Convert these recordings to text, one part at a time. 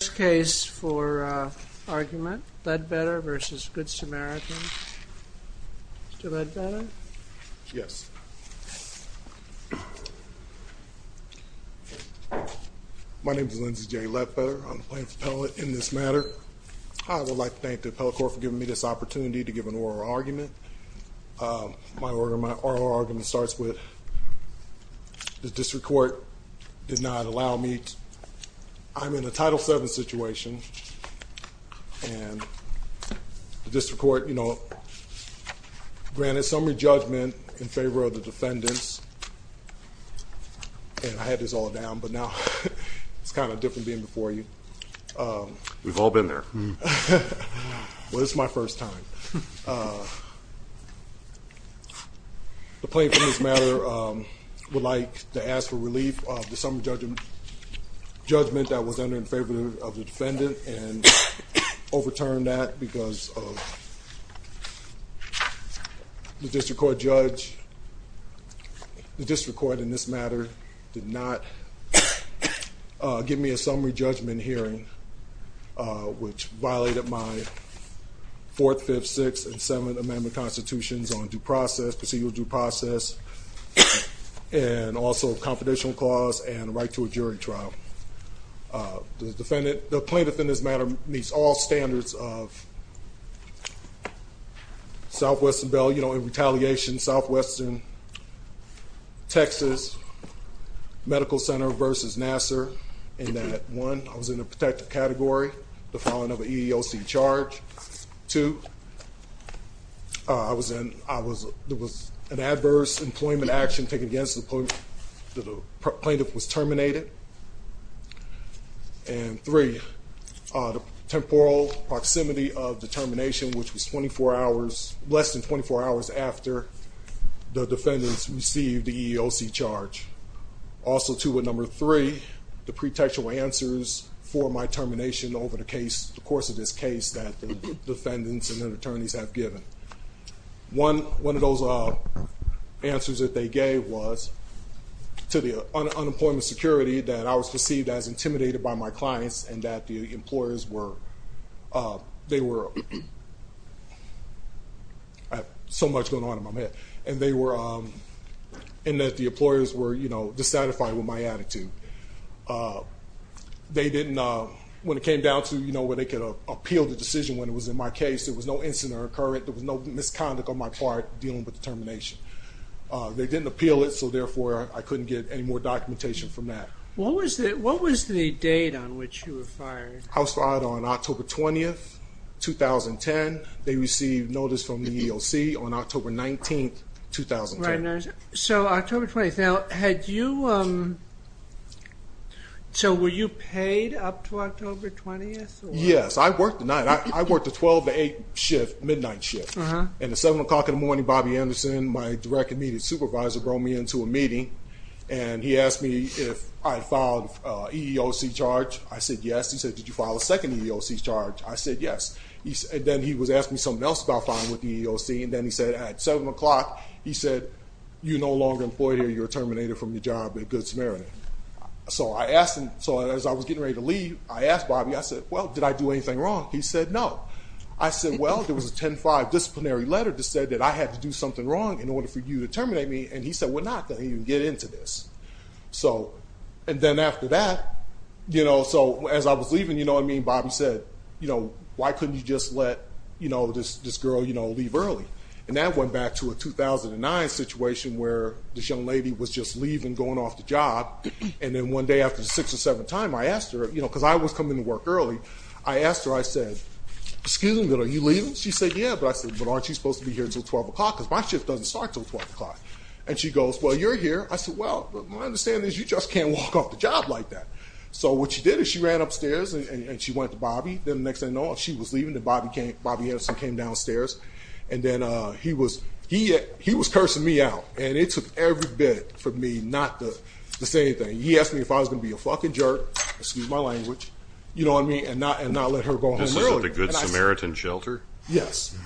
First case for argument, Ledbetter v. Good Samaritan. Mr. Ledbetter. Yes. My name is Lindsey J. Ledbetter. I'm the plaintiff's appellate in this matter. I would like to thank the appellate court for giving me this opportunity to give an oral argument. My oral argument starts with the district court did not allow me to, I'm in a Title VII situation and the district court, you know, granted summary judgment in favor of the defendants. And I had this all down, but now it's kind of different being before you. We've all been there. Well, it's my first time. The plaintiff in this matter would like to ask for relief of the summary judgment judgment that was entered in favor of the defendant and overturned that because of the district court judge. The district court in this matter did not give me a summary judgment hearing, which violated my fourth, fifth, sixth, and seventh amendment constitutions on due process, procedural due process, and also confidential clause and right to a jury trial. The defendant, the plaintiff in this matter meets all standards of Southwestern Bell, you know, in retaliation, Southwestern, Texas Medical Center versus Nassar, in that one, I was in a protective category, the filing of an EEOC charge. Two, there was an adverse employment action taken against the plaintiff was terminated. And three, temporal proximity of the termination, which was less than 24 hours after the defendants received the EEOC charge. Also, too, with number three, the pretextual answers for my termination over the course of this case that the defendants and their attorneys have given. One of those answers that they gave was to the unemployment security that I was perceived as intimidated by my clients and that the employers were, they were, I have so much going on in my mind, and that the employers were, you know, uh, they didn't, uh, when it came down to, you know, where they could appeal the decision, when it was in my case, there was no incident occurring. There was no misconduct on my part dealing with the termination. Uh, they didn't appeal it. So therefore I couldn't get any more documentation from that. What was the, what was the date on which you were fired? I was fired on October 20th, 2010. They received notice from the EEOC on October 19th, 2010. So October 20th. Now had you, um, so were you paid up to October 20th? Yes. I worked the night. I worked the 12 to 8 shift, midnight shift. And at seven o'clock in the morning, Bobby Anderson, my direct immediate supervisor, brought me into a meeting and he asked me if I filed a EEOC charge. I said, yes. He said, did you file a second EEOC charge? I said, yes. And then he was asking me something else about filing with the EEOC. And then he said at seven o'clock, he said, you're no longer employed here. You're terminated from your job at Good Samaritan. So I asked him, so as I was getting ready to leave, I asked Bobby, I said, well, did I do anything wrong? He said, no. I said, well, there was a 10-5 disciplinary letter that said that I had to do something wrong in order for you to terminate me. And he said, we're not going to even get into this. So, and then after that, you know, so as I was leaving, you know what I mean? Bobby said, you know, why couldn't you just let, you know, this, girl, you know, leave early? And that went back to a 2009 situation where this young lady was just leaving, going off the job. And then one day after the six or seven time, I asked her, you know, because I was coming to work early. I asked her, I said, excuse me, are you leaving? She said, yeah. But I said, but aren't you supposed to be here until 12 o'clock? Because my shift doesn't start until 12 o'clock. And she goes, well, you're here. I said, well, my understanding is you just can't walk off the job like that. So what she did is she ran upstairs and she went to Bobby. Then and then, uh, he was, he, he was cursing me out and it took every bit for me, not to say anything. He asked me if I was going to be a jerk, excuse my language, you know what I mean? And not, and not let her go home early, the good Samaritan shelter. Yes.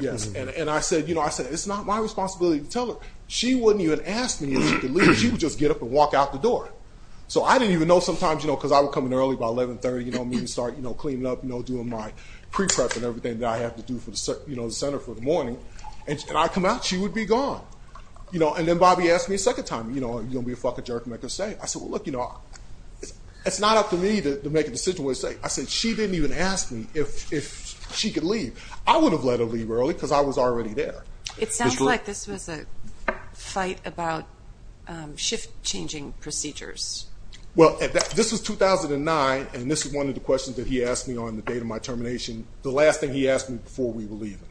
Yes. And I said, you know, I said, it's not my responsibility to tell her. She wouldn't even ask me if she would just get up and walk out the door. So I didn't even know sometimes, you know, cause I would come in early by 1130, you know, me to start, you know, cleaning up, you know, doing my pre-prep and everything that I have to do for the, you know, the center for the morning. And I come out, she would be gone, you know, and then Bobby asked me a second time, you know, are you going to be a fucking jerk and make her stay? I said, well, look, you know, it's not up to me to make a decision what to say. I said, she didn't even ask me if, if she could leave. I would have let her leave early cause I was already there. It sounds like this was a fight about, um, shift changing procedures. Well, this was 2009. And this is one of the questions that he asked me on the date of my termination. The last thing he asked me before we were leaving.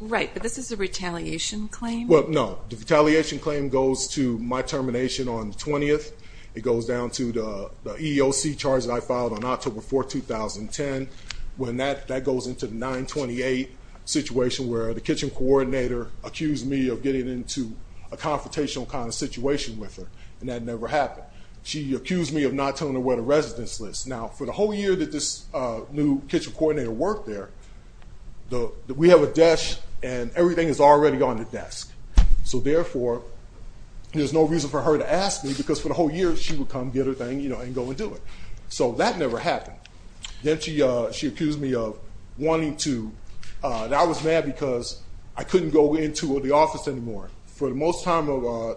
Right. But this is a retaliation claim. Well, no, the retaliation claim goes to my termination on the 20th. It goes down to the EOC charge that I filed on October 4th, 2010. When that, that goes into the 928 situation where the kitchen coordinator accused me of getting into a confrontational kind of situation with her. And that never happened. She accused me of not telling her where the residence list. Now for the whole year that this, uh, new kitchen coordinator worked there, the, we have a desk and everything is already on the desk. So therefore there's no reason for her to ask me because for the whole year, she would come get her thing, you know, and go and do it. So that never happened. Then she, uh, she accused me of wanting to, uh, that I was mad because I couldn't go into the office anymore. For the most time of, uh,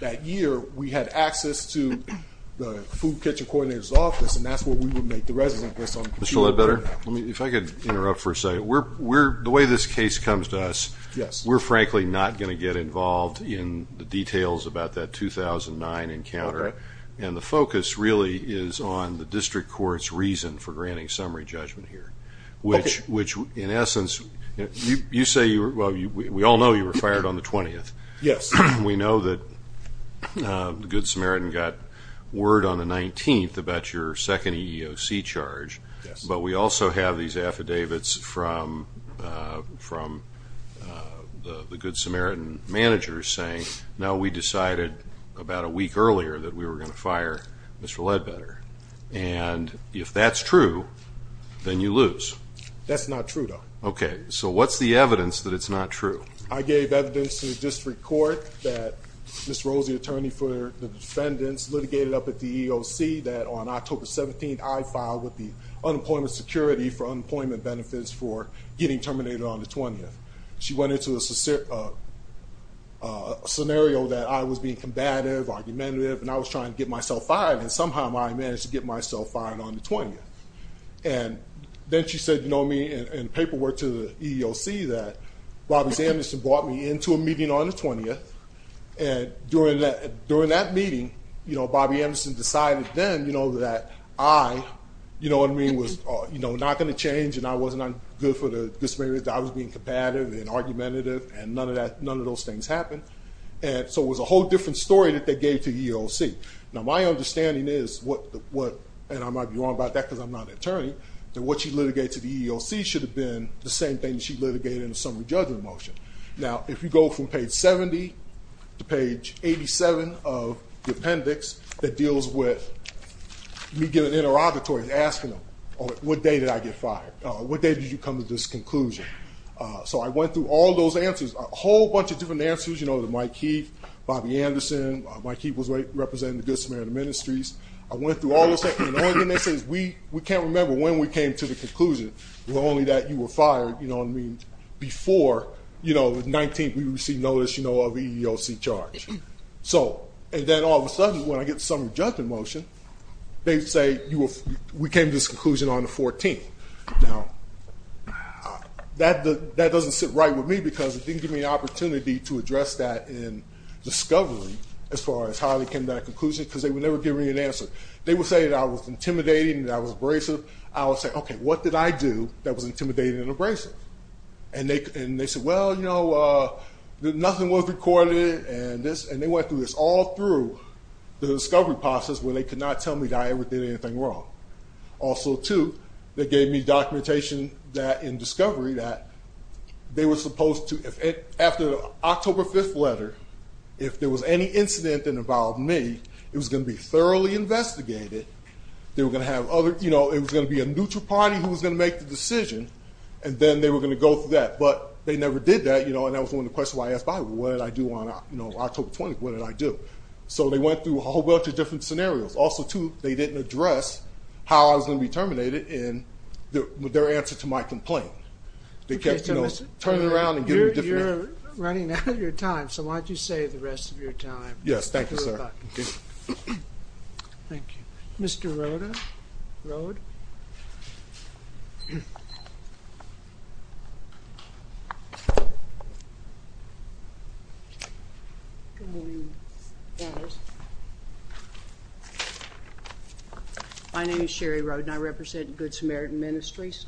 that year, we had access to the food kitchen coordinator's office and that's what we would make the residence list on the computer. Mr. Ledbetter, let me, if I could interrupt for a second. We're, we're, the way this case comes to us, we're frankly not going to get involved in the details about that 2009 encounter. And the focus really is on the district court's reason for granting summary judgment here, which, which in essence, you say you were, well, we all know you were fired on the 20th. Yes. We know that, uh, the Good Samaritan got word on the 19th about your second EEOC charge, but we also have these affidavits from, uh, from, uh, the, the Good Samaritan managers saying, no, we decided about a week earlier that we were going to fire Mr. Ledbetter. And if that's true, then you lose. That's not true though. Okay. So what's the evidence that it's not true? I gave evidence to the district court that Ms. Rose, the attorney for the defendants litigated up at the EEOC that on October 17th, I filed with the unemployment security for unemployment benefits for getting terminated on the 20th. She went into a scenario that I was being combative, argumentative, and I was trying to get myself fired. And somehow I managed to get myself fired on the 20th. And then she said, you know, me and paperwork to the EEOC that Bobby Anderson brought me into a meeting on the 20th. And during that, during that meeting, you know, Bobby Anderson decided then, you know, that I, you know what I mean, was, you know, not going to change. And I wasn't good for the Good Samaritan. I was being combative and argumentative and none of that, none of those things happened. And so it was a whole different story that they gave to EEOC. Now, my understanding is what, what, and I might be wrong about that because I'm not an attorney, that what she litigated to the EEOC should have been the same thing that she litigated in the summary judgment motion. Now, if you go from page 70 to page 87 of the appendix that deals with me giving interrogatories, asking them, what day did I get fired? What day did you come to this conclusion? So I went through all those answers, a whole bunch of different answers, you know, to Mike Heath, Bobby Anderson. Mike Heath was representing the Good Samaritan Ministries. I went through all those things. And the only thing they say is we, can't remember when we came to the conclusion, but only that you were fired, you know what I mean, before, you know, the 19th, we received notice, you know, of EEOC charge. So, and then all of a sudden, when I get the summary judgment motion, they say, you were, we came to this conclusion on the 14th. Now, that, that doesn't sit right with me because it didn't give me the opportunity to address that in discovery, as far as how they came to that conclusion, because they would never give me an answer. They would say that I was intimidating, that I was abrasive. I would say, okay, what did I do that was intimidating and abrasive? And they, and they said, well, you know, nothing was recorded and this, and they went through this all through the discovery process where they could not tell me that I ever did anything wrong. Also, too, they gave me documentation that, in discovery, that they were supposed to, after the October 5th letter, if there was any incident that involved me, it was going to be thoroughly investigated. They were going to have other, you know, it was going to be a neutral party who was going to make the decision, and then they were going to go through that, but they never did that, you know, and that was one of the questions I asked Bobby, what did I do on, you know, October 20th, what did I do? So, they went through a whole bunch of different scenarios. Also, too, they didn't address how I was going to be terminated in their answer to my complaint. They kept, you know, turning around and giving different... We're running out of your time, so why don't you save the rest of your time. Yes, thank you, sir. Thank you. Mr. Rode. My name is Sherry Rode, and I represent Good Samaritan Ministries,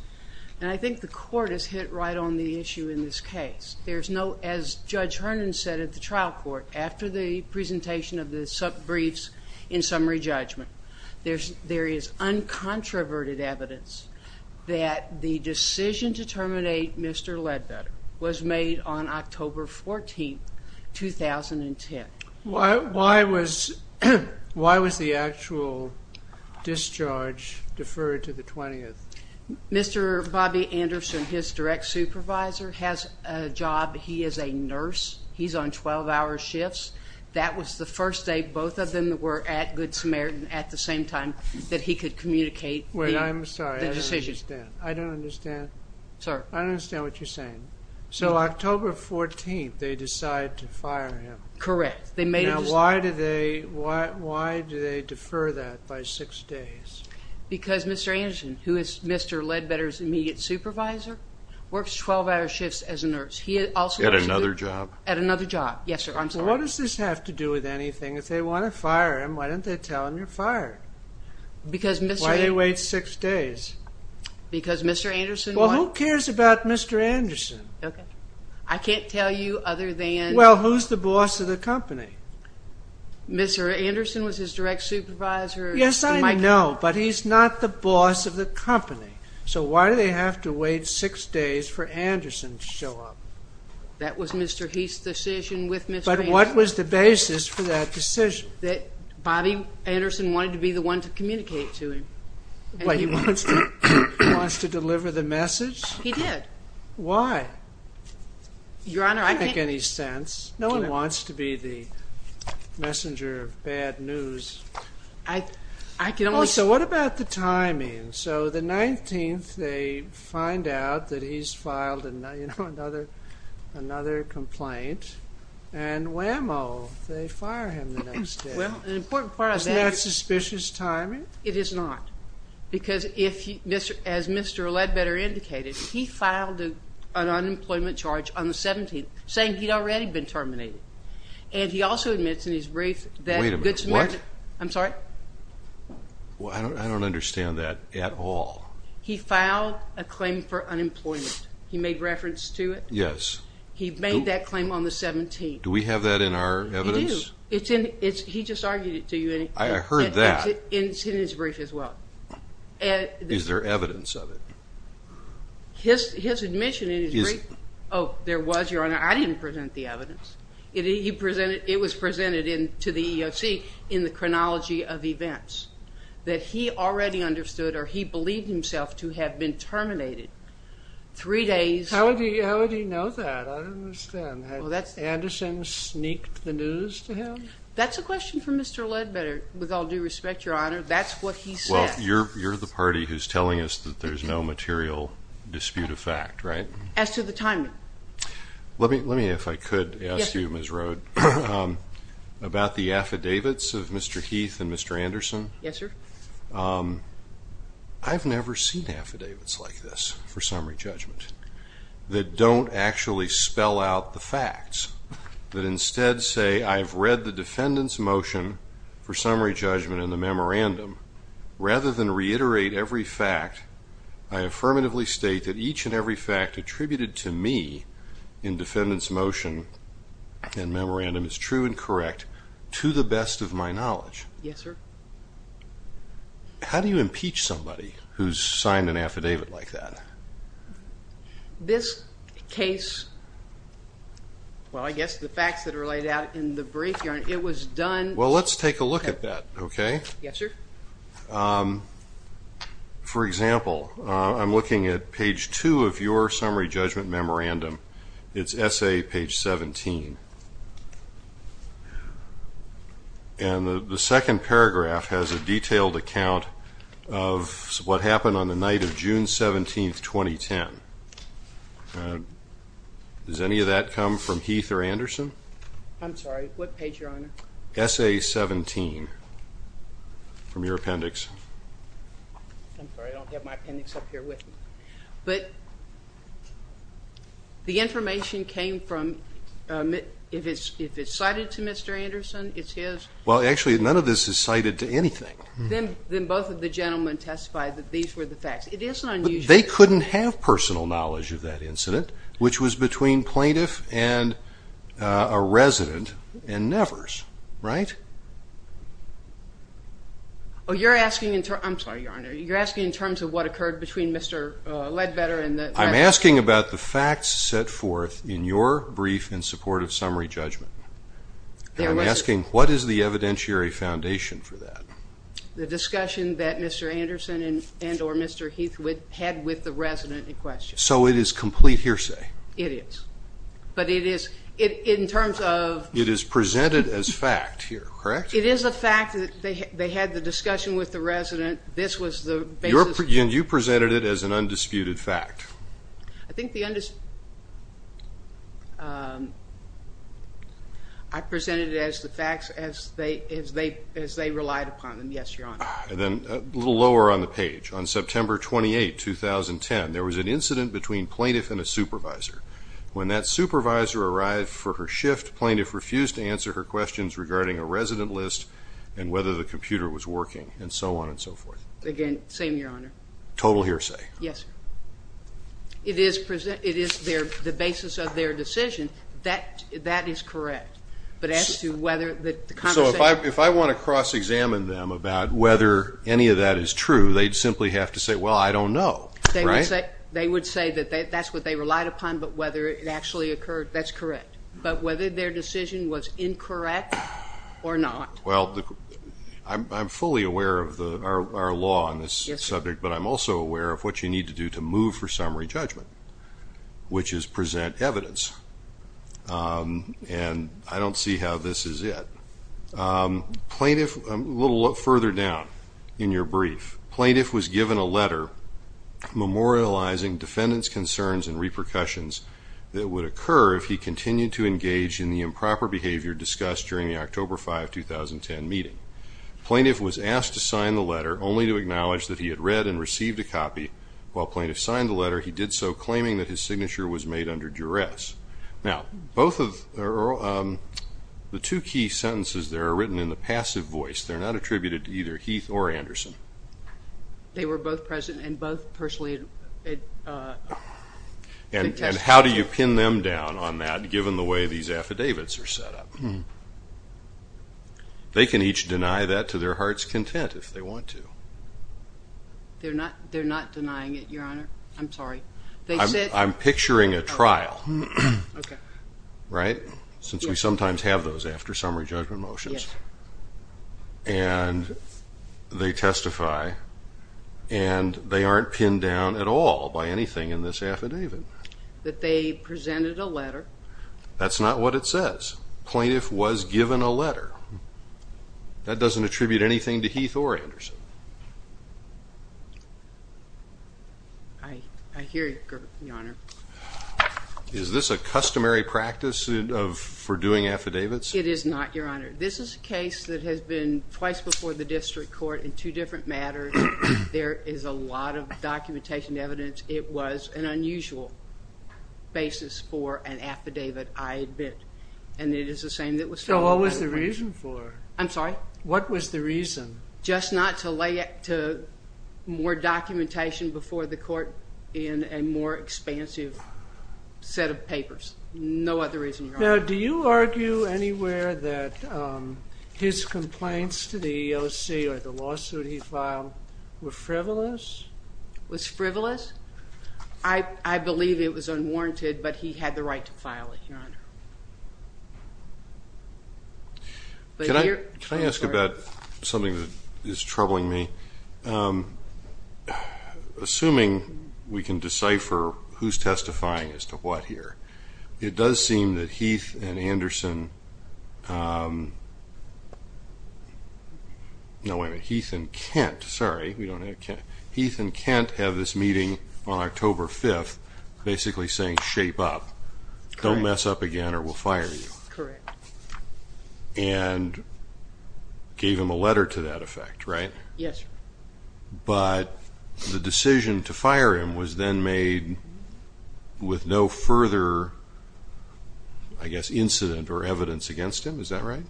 and I think the court has hit right on the issue in this case. There's no, as Judge Herndon said at the trial court, after the presentation of the briefs in summary judgment, there is uncontroverted evidence that the decision to terminate Mr. Ledbetter was made on October 14th, 2010. Why was the actual discharge deferred to the 20th? Mr. Bobby Anderson, his direct supervisor, has a job. He is a nurse. He's on 12-hour shifts. That was the first day both of them were at Good Samaritan at the same time that he could communicate the decision. Wait, I'm sorry. I don't understand. I don't understand. Sir? I don't understand what you're saying. So, October 14th, they decide to fire him. Correct. Now, why do they defer that by six days? Because Mr. Anderson, who is Mr. Ledbetter's immediate supervisor, works 12-hour shifts as a nurse. At another job? At another job. Yes, sir. I'm sorry. What does this have to do with anything? If they want to fire him, why don't they tell him you're fired? Why do they wait six days? Because Mr. Anderson... Well, who cares about Mr. Anderson? Okay. I can't tell you other than... Well, who's the boss of the company? Mr. Anderson was his direct supervisor. Yes, I know, but he's not the boss of the company. So, why do they have to wait six days for Anderson to show up? That was Mr. Heath's decision with Mr. Anderson. But what was the basis for that decision? That Bobby Anderson wanted to be the one to communicate to him. What, he wants to deliver the message? He did. Why? Your Honor, I can't... Doesn't make any sense. No one wants to be the messenger of bad news. I can only... Also, what about the timing? So, the 19th, they find out that he's filed another complaint, and whammo, they fire him the next day. Well, an important part of that... Isn't that suspicious timing? It is not, because as Mr. Ledbetter indicated, he filed an unemployment charge on the 17th, saying he'd already been terminated. And he also admits in his brief that... Wait a minute, what? I'm sorry? Well, I don't understand that at all. He filed a claim for unemployment. He made that claim on the 17th. Do we have that in our evidence? He did. He just argued it to you. I heard that. It's in his brief as well. Is there evidence of it? His admission in his brief... Oh, there was, Your Honor. I didn't present the evidence. It was presented to the EEOC in the chronology of events that he already understood, or he believed himself to have been terminated. I didn't know that. I don't understand. Had Anderson sneaked the news to him? That's a question for Mr. Ledbetter, with all due respect, Your Honor. That's what he said. Well, you're the party who's telling us that there's no material dispute of fact, right? As to the timing. Let me, if I could, ask you, Ms. Rode, about the affidavits of Mr. Heath and Mr. Anderson. Yes, sir. I've never seen affidavits like this for summary judgment that don't actually spell out the facts, that instead say, I've read the defendant's motion for summary judgment in the memorandum. Rather than reiterate every fact, I affirmatively state that each and every fact attributed to me in defendant's motion and memorandum is true and correct, to the best of my knowledge. Yes, sir. How do you impeach somebody who's signed an affidavit like that? This case, well, I guess the facts that are laid out in the brief, Your Honor, it was done... Well, let's take a look at that, okay? Yes, sir. For example, I'm looking at page two of your account of what happened on the night of June 17th, 2010. Does any of that come from Heath or Anderson? I'm sorry, what page, Your Honor? Essay 17 from your appendix. I'm sorry, I don't have my appendix up here with me. But the information came from, if it's cited to Mr. Ledbetter, then both of the gentlemen testified that these were the facts. It is unusual. But they couldn't have personal knowledge of that incident, which was between plaintiff and a resident and Nevers, right? Oh, you're asking in terms... I'm sorry, Your Honor. You're asking in terms of what occurred between Mr. Ledbetter and the... I'm asking about the facts set forth in your brief in support of summary judgment. I'm asking, what is the evidentiary foundation for that? The discussion that Mr. Anderson and or Mr. Heath had with the resident in question. So it is complete hearsay? It is. But it is in terms of... It is presented as fact here, correct? It is a fact that they had the discussion with the resident. This was the basis... And you presented it as an undisputed fact? I presented it as the facts as they relied upon them, yes, Your Honor. And then a little lower on the page, on September 28, 2010, there was an incident between plaintiff and a supervisor. When that supervisor arrived for her shift, plaintiff refused to answer her questions regarding a resident list and whether the computer was Yes, Your Honor. It is the basis of their decision. That is correct. But as to whether the conversation... So if I want to cross-examine them about whether any of that is true, they'd simply have to say, well, I don't know, right? They would say that that's what they relied upon, but whether it actually occurred, that's correct. But whether their decision was incorrect or not... Well, I'm fully aware of our law on this subject, but I'm also aware of what you need to do to move for summary judgment, which is present evidence. And I don't see how this is it. Plaintiff... A little further down in your brief, plaintiff was given a letter memorializing defendant's concerns and repercussions that would occur if he continued to engage in the improper behavior discussed during the October 5, 2010 meeting. Plaintiff was asked to sign the letter only to acknowledge that he had read and received a copy. While plaintiff signed the letter, he did so claiming that his signature was made under duress. Now, both of the two key sentences there are written in the passive voice. They're not attributed to either Heath or Anderson. They were both present and both personally... And how do you pin them down on that given the way these affidavits are set up? They can each deny that to their heart's content if they want to. They're not denying it, your honor. I'm sorry. They said... I'm picturing a trial, right? Since we sometimes have those after summary judgment motions. And they testify and they aren't pinned down at all by anything in this affidavit. That they presented a letter... That's not what it says. Plaintiff was given a letter. That doesn't attribute anything to Heath or Anderson. I hear you, your honor. Is this a customary practice for doing affidavits? It is not, your honor. This is a case that has been twice before the district court in two different matters. There is a lot of documentation evidence. It was an unusual basis for an affidavit. I had and it is the same that was... So what was the reason for it? I'm sorry? What was the reason? Just not to lay it to more documentation before the court in a more expansive set of papers. No other reason. Now do you argue anywhere that his complaints to the EEOC or the lawsuit he filed were frivolous? Was frivolous? I believe it was unwarranted but he had the right to file it, your honor. Can I ask about something that is troubling me? Assuming we can decipher who's testifying as to what here, it does seem that Heath and Anderson... No, wait a minute. Heath and Kent. Sorry, we don't have Kent. Heath and Kent have this meeting on October 5th basically saying, shape up. Don't mess up again or we'll fire you. Correct. And gave him a letter to that effect, right? Yes, sir. But the decision to fire him was then made with no further, I guess, incident or evidence against him. Is that right?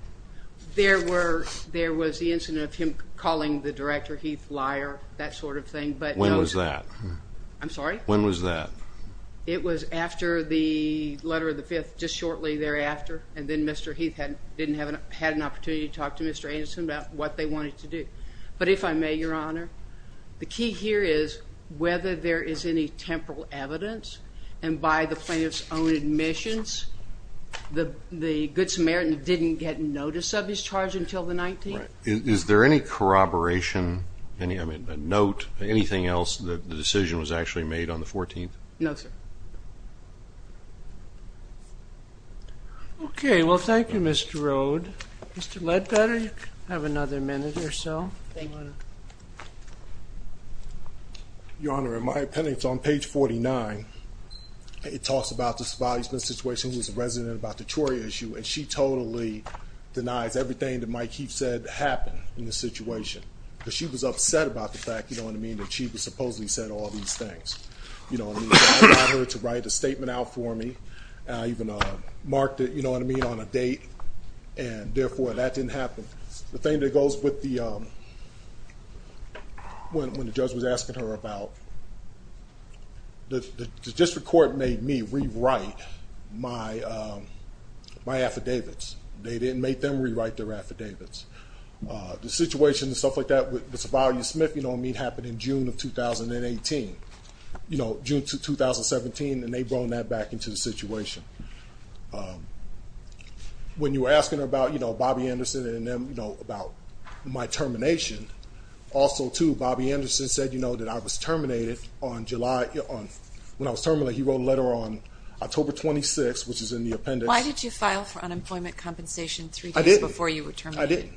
There were, there was the incident of him calling the director Heath liar, that sort of thing. When was that? I'm sorry? When was that? It was after the letter of the fifth, just shortly thereafter. And then Mr. Heath didn't have an opportunity to talk to Mr. Anderson about what they wanted to do. But if I may, your honor, the key here is whether there is any temporal evidence and by the plaintiff's own admissions, the good Samaritan didn't get a notice of his charge until the 19th. Is there any corroboration, any, I mean, a note, anything else that the decision was actually made on the 14th? No, sir. Okay. Well, thank you, Mr. Rode. Mr. Ledbetter, you have another minute or so. Your honor, in my opinion, it's on page 49. It talks about this evaluation situation. He's a and she totally denies everything that Mike Heath said happened in this situation because she was upset about the fact, you know what I mean? That she was supposedly said all these things, you know what I mean? I got her to write a statement out for me. I even marked it, you know what I mean? On a date and therefore that didn't happen. The thing that goes with the, when, when the judge was asking her about the district court made me rewrite my, my affidavits. They didn't make them rewrite their affidavits. The situation and stuff like that with Savalia Smith, you know what I mean? Happened in June of 2018, you know, June 2017. And they brought that back into the situation. When you were asking her about, you know, Bobby Anderson and them, you know, about my termination also to Bobby Anderson said, you know, that I was terminated on July on, when I was terminated, he wrote a letter on October 26th, which is in the appendix. Why did you file for unemployment compensation three days before you were terminated? I didn't.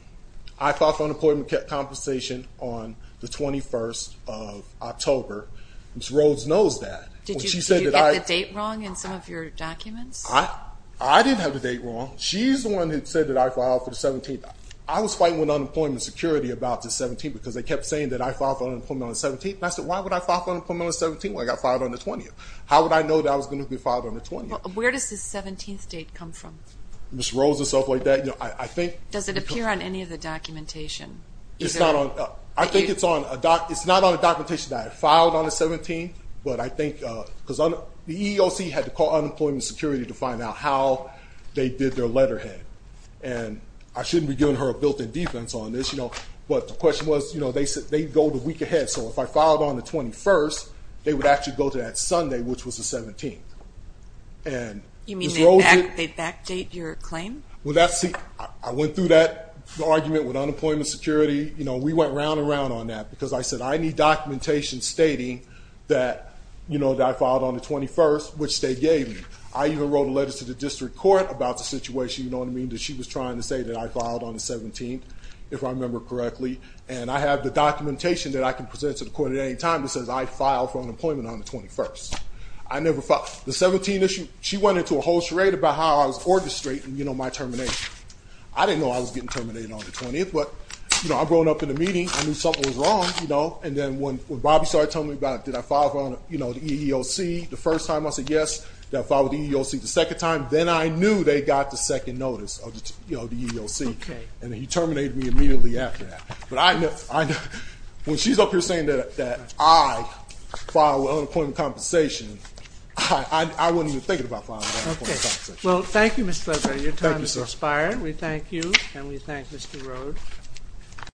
I filed for unemployment compensation on the 21st of October. Ms. Rhodes knows that. Did you get the date wrong in some of your documents? I didn't have the date wrong. She's the one who said that I filed for the 17th. I was fighting with unemployment security about the 17th because they kept saying that I filed for unemployment on the 17th. And I said, why would I file for unemployment on the 17th when I got filed on the 20th? How would I know that I was going to be filed on the 20th? Where does the 17th date come from? Ms. Rhodes and stuff like that, you know, I think. Does it appear on any of the documentation? It's not on, I think it's on a doc, it's not on a documentation that I filed on the 17th, but I think because the EEOC had to call unemployment security to find out how they did their letterhead. And I shouldn't be giving her a built-in defense on this, you know, but the question was, you know, they said they'd go the week ahead. So if I filed on the 21st, they would actually go to that Sunday, which was the 17th. And you mean they'd backdate your claim? Well, I went through that argument with unemployment security. You know, we went round and round on that because I said, I need documentation stating that, you know, that I filed on the 21st, which they gave me. I even wrote a letter to the district court about the situation. You know what I mean? That she was trying to say that I filed on the 17th, if I remember correctly. And I have the documentation that I can present to the court at any time that says I filed for unemployment on the 21st. I never filed. The 17th issue, she went into a whole charade about how I was orchestrating, you know, my termination. I didn't know I was getting terminated on the 20th, but, you know, I'd grown up in the meeting. I knew something was wrong, you know, and then when Bobby started telling me about, did I file on, you know, the EEOC the first time? I said, yes. Did I file with the EEOC the second time? Then I knew they got the second notice of the, you know, the EEOC. And he terminated me immediately after that. But I know, when she's up here saying that I filed with unemployment compensation, I wouldn't even think about filing with unemployment compensation. Well, thank you, Mr. Lebrun. Your time has expired. We thank you, and we thank Mr. Rode.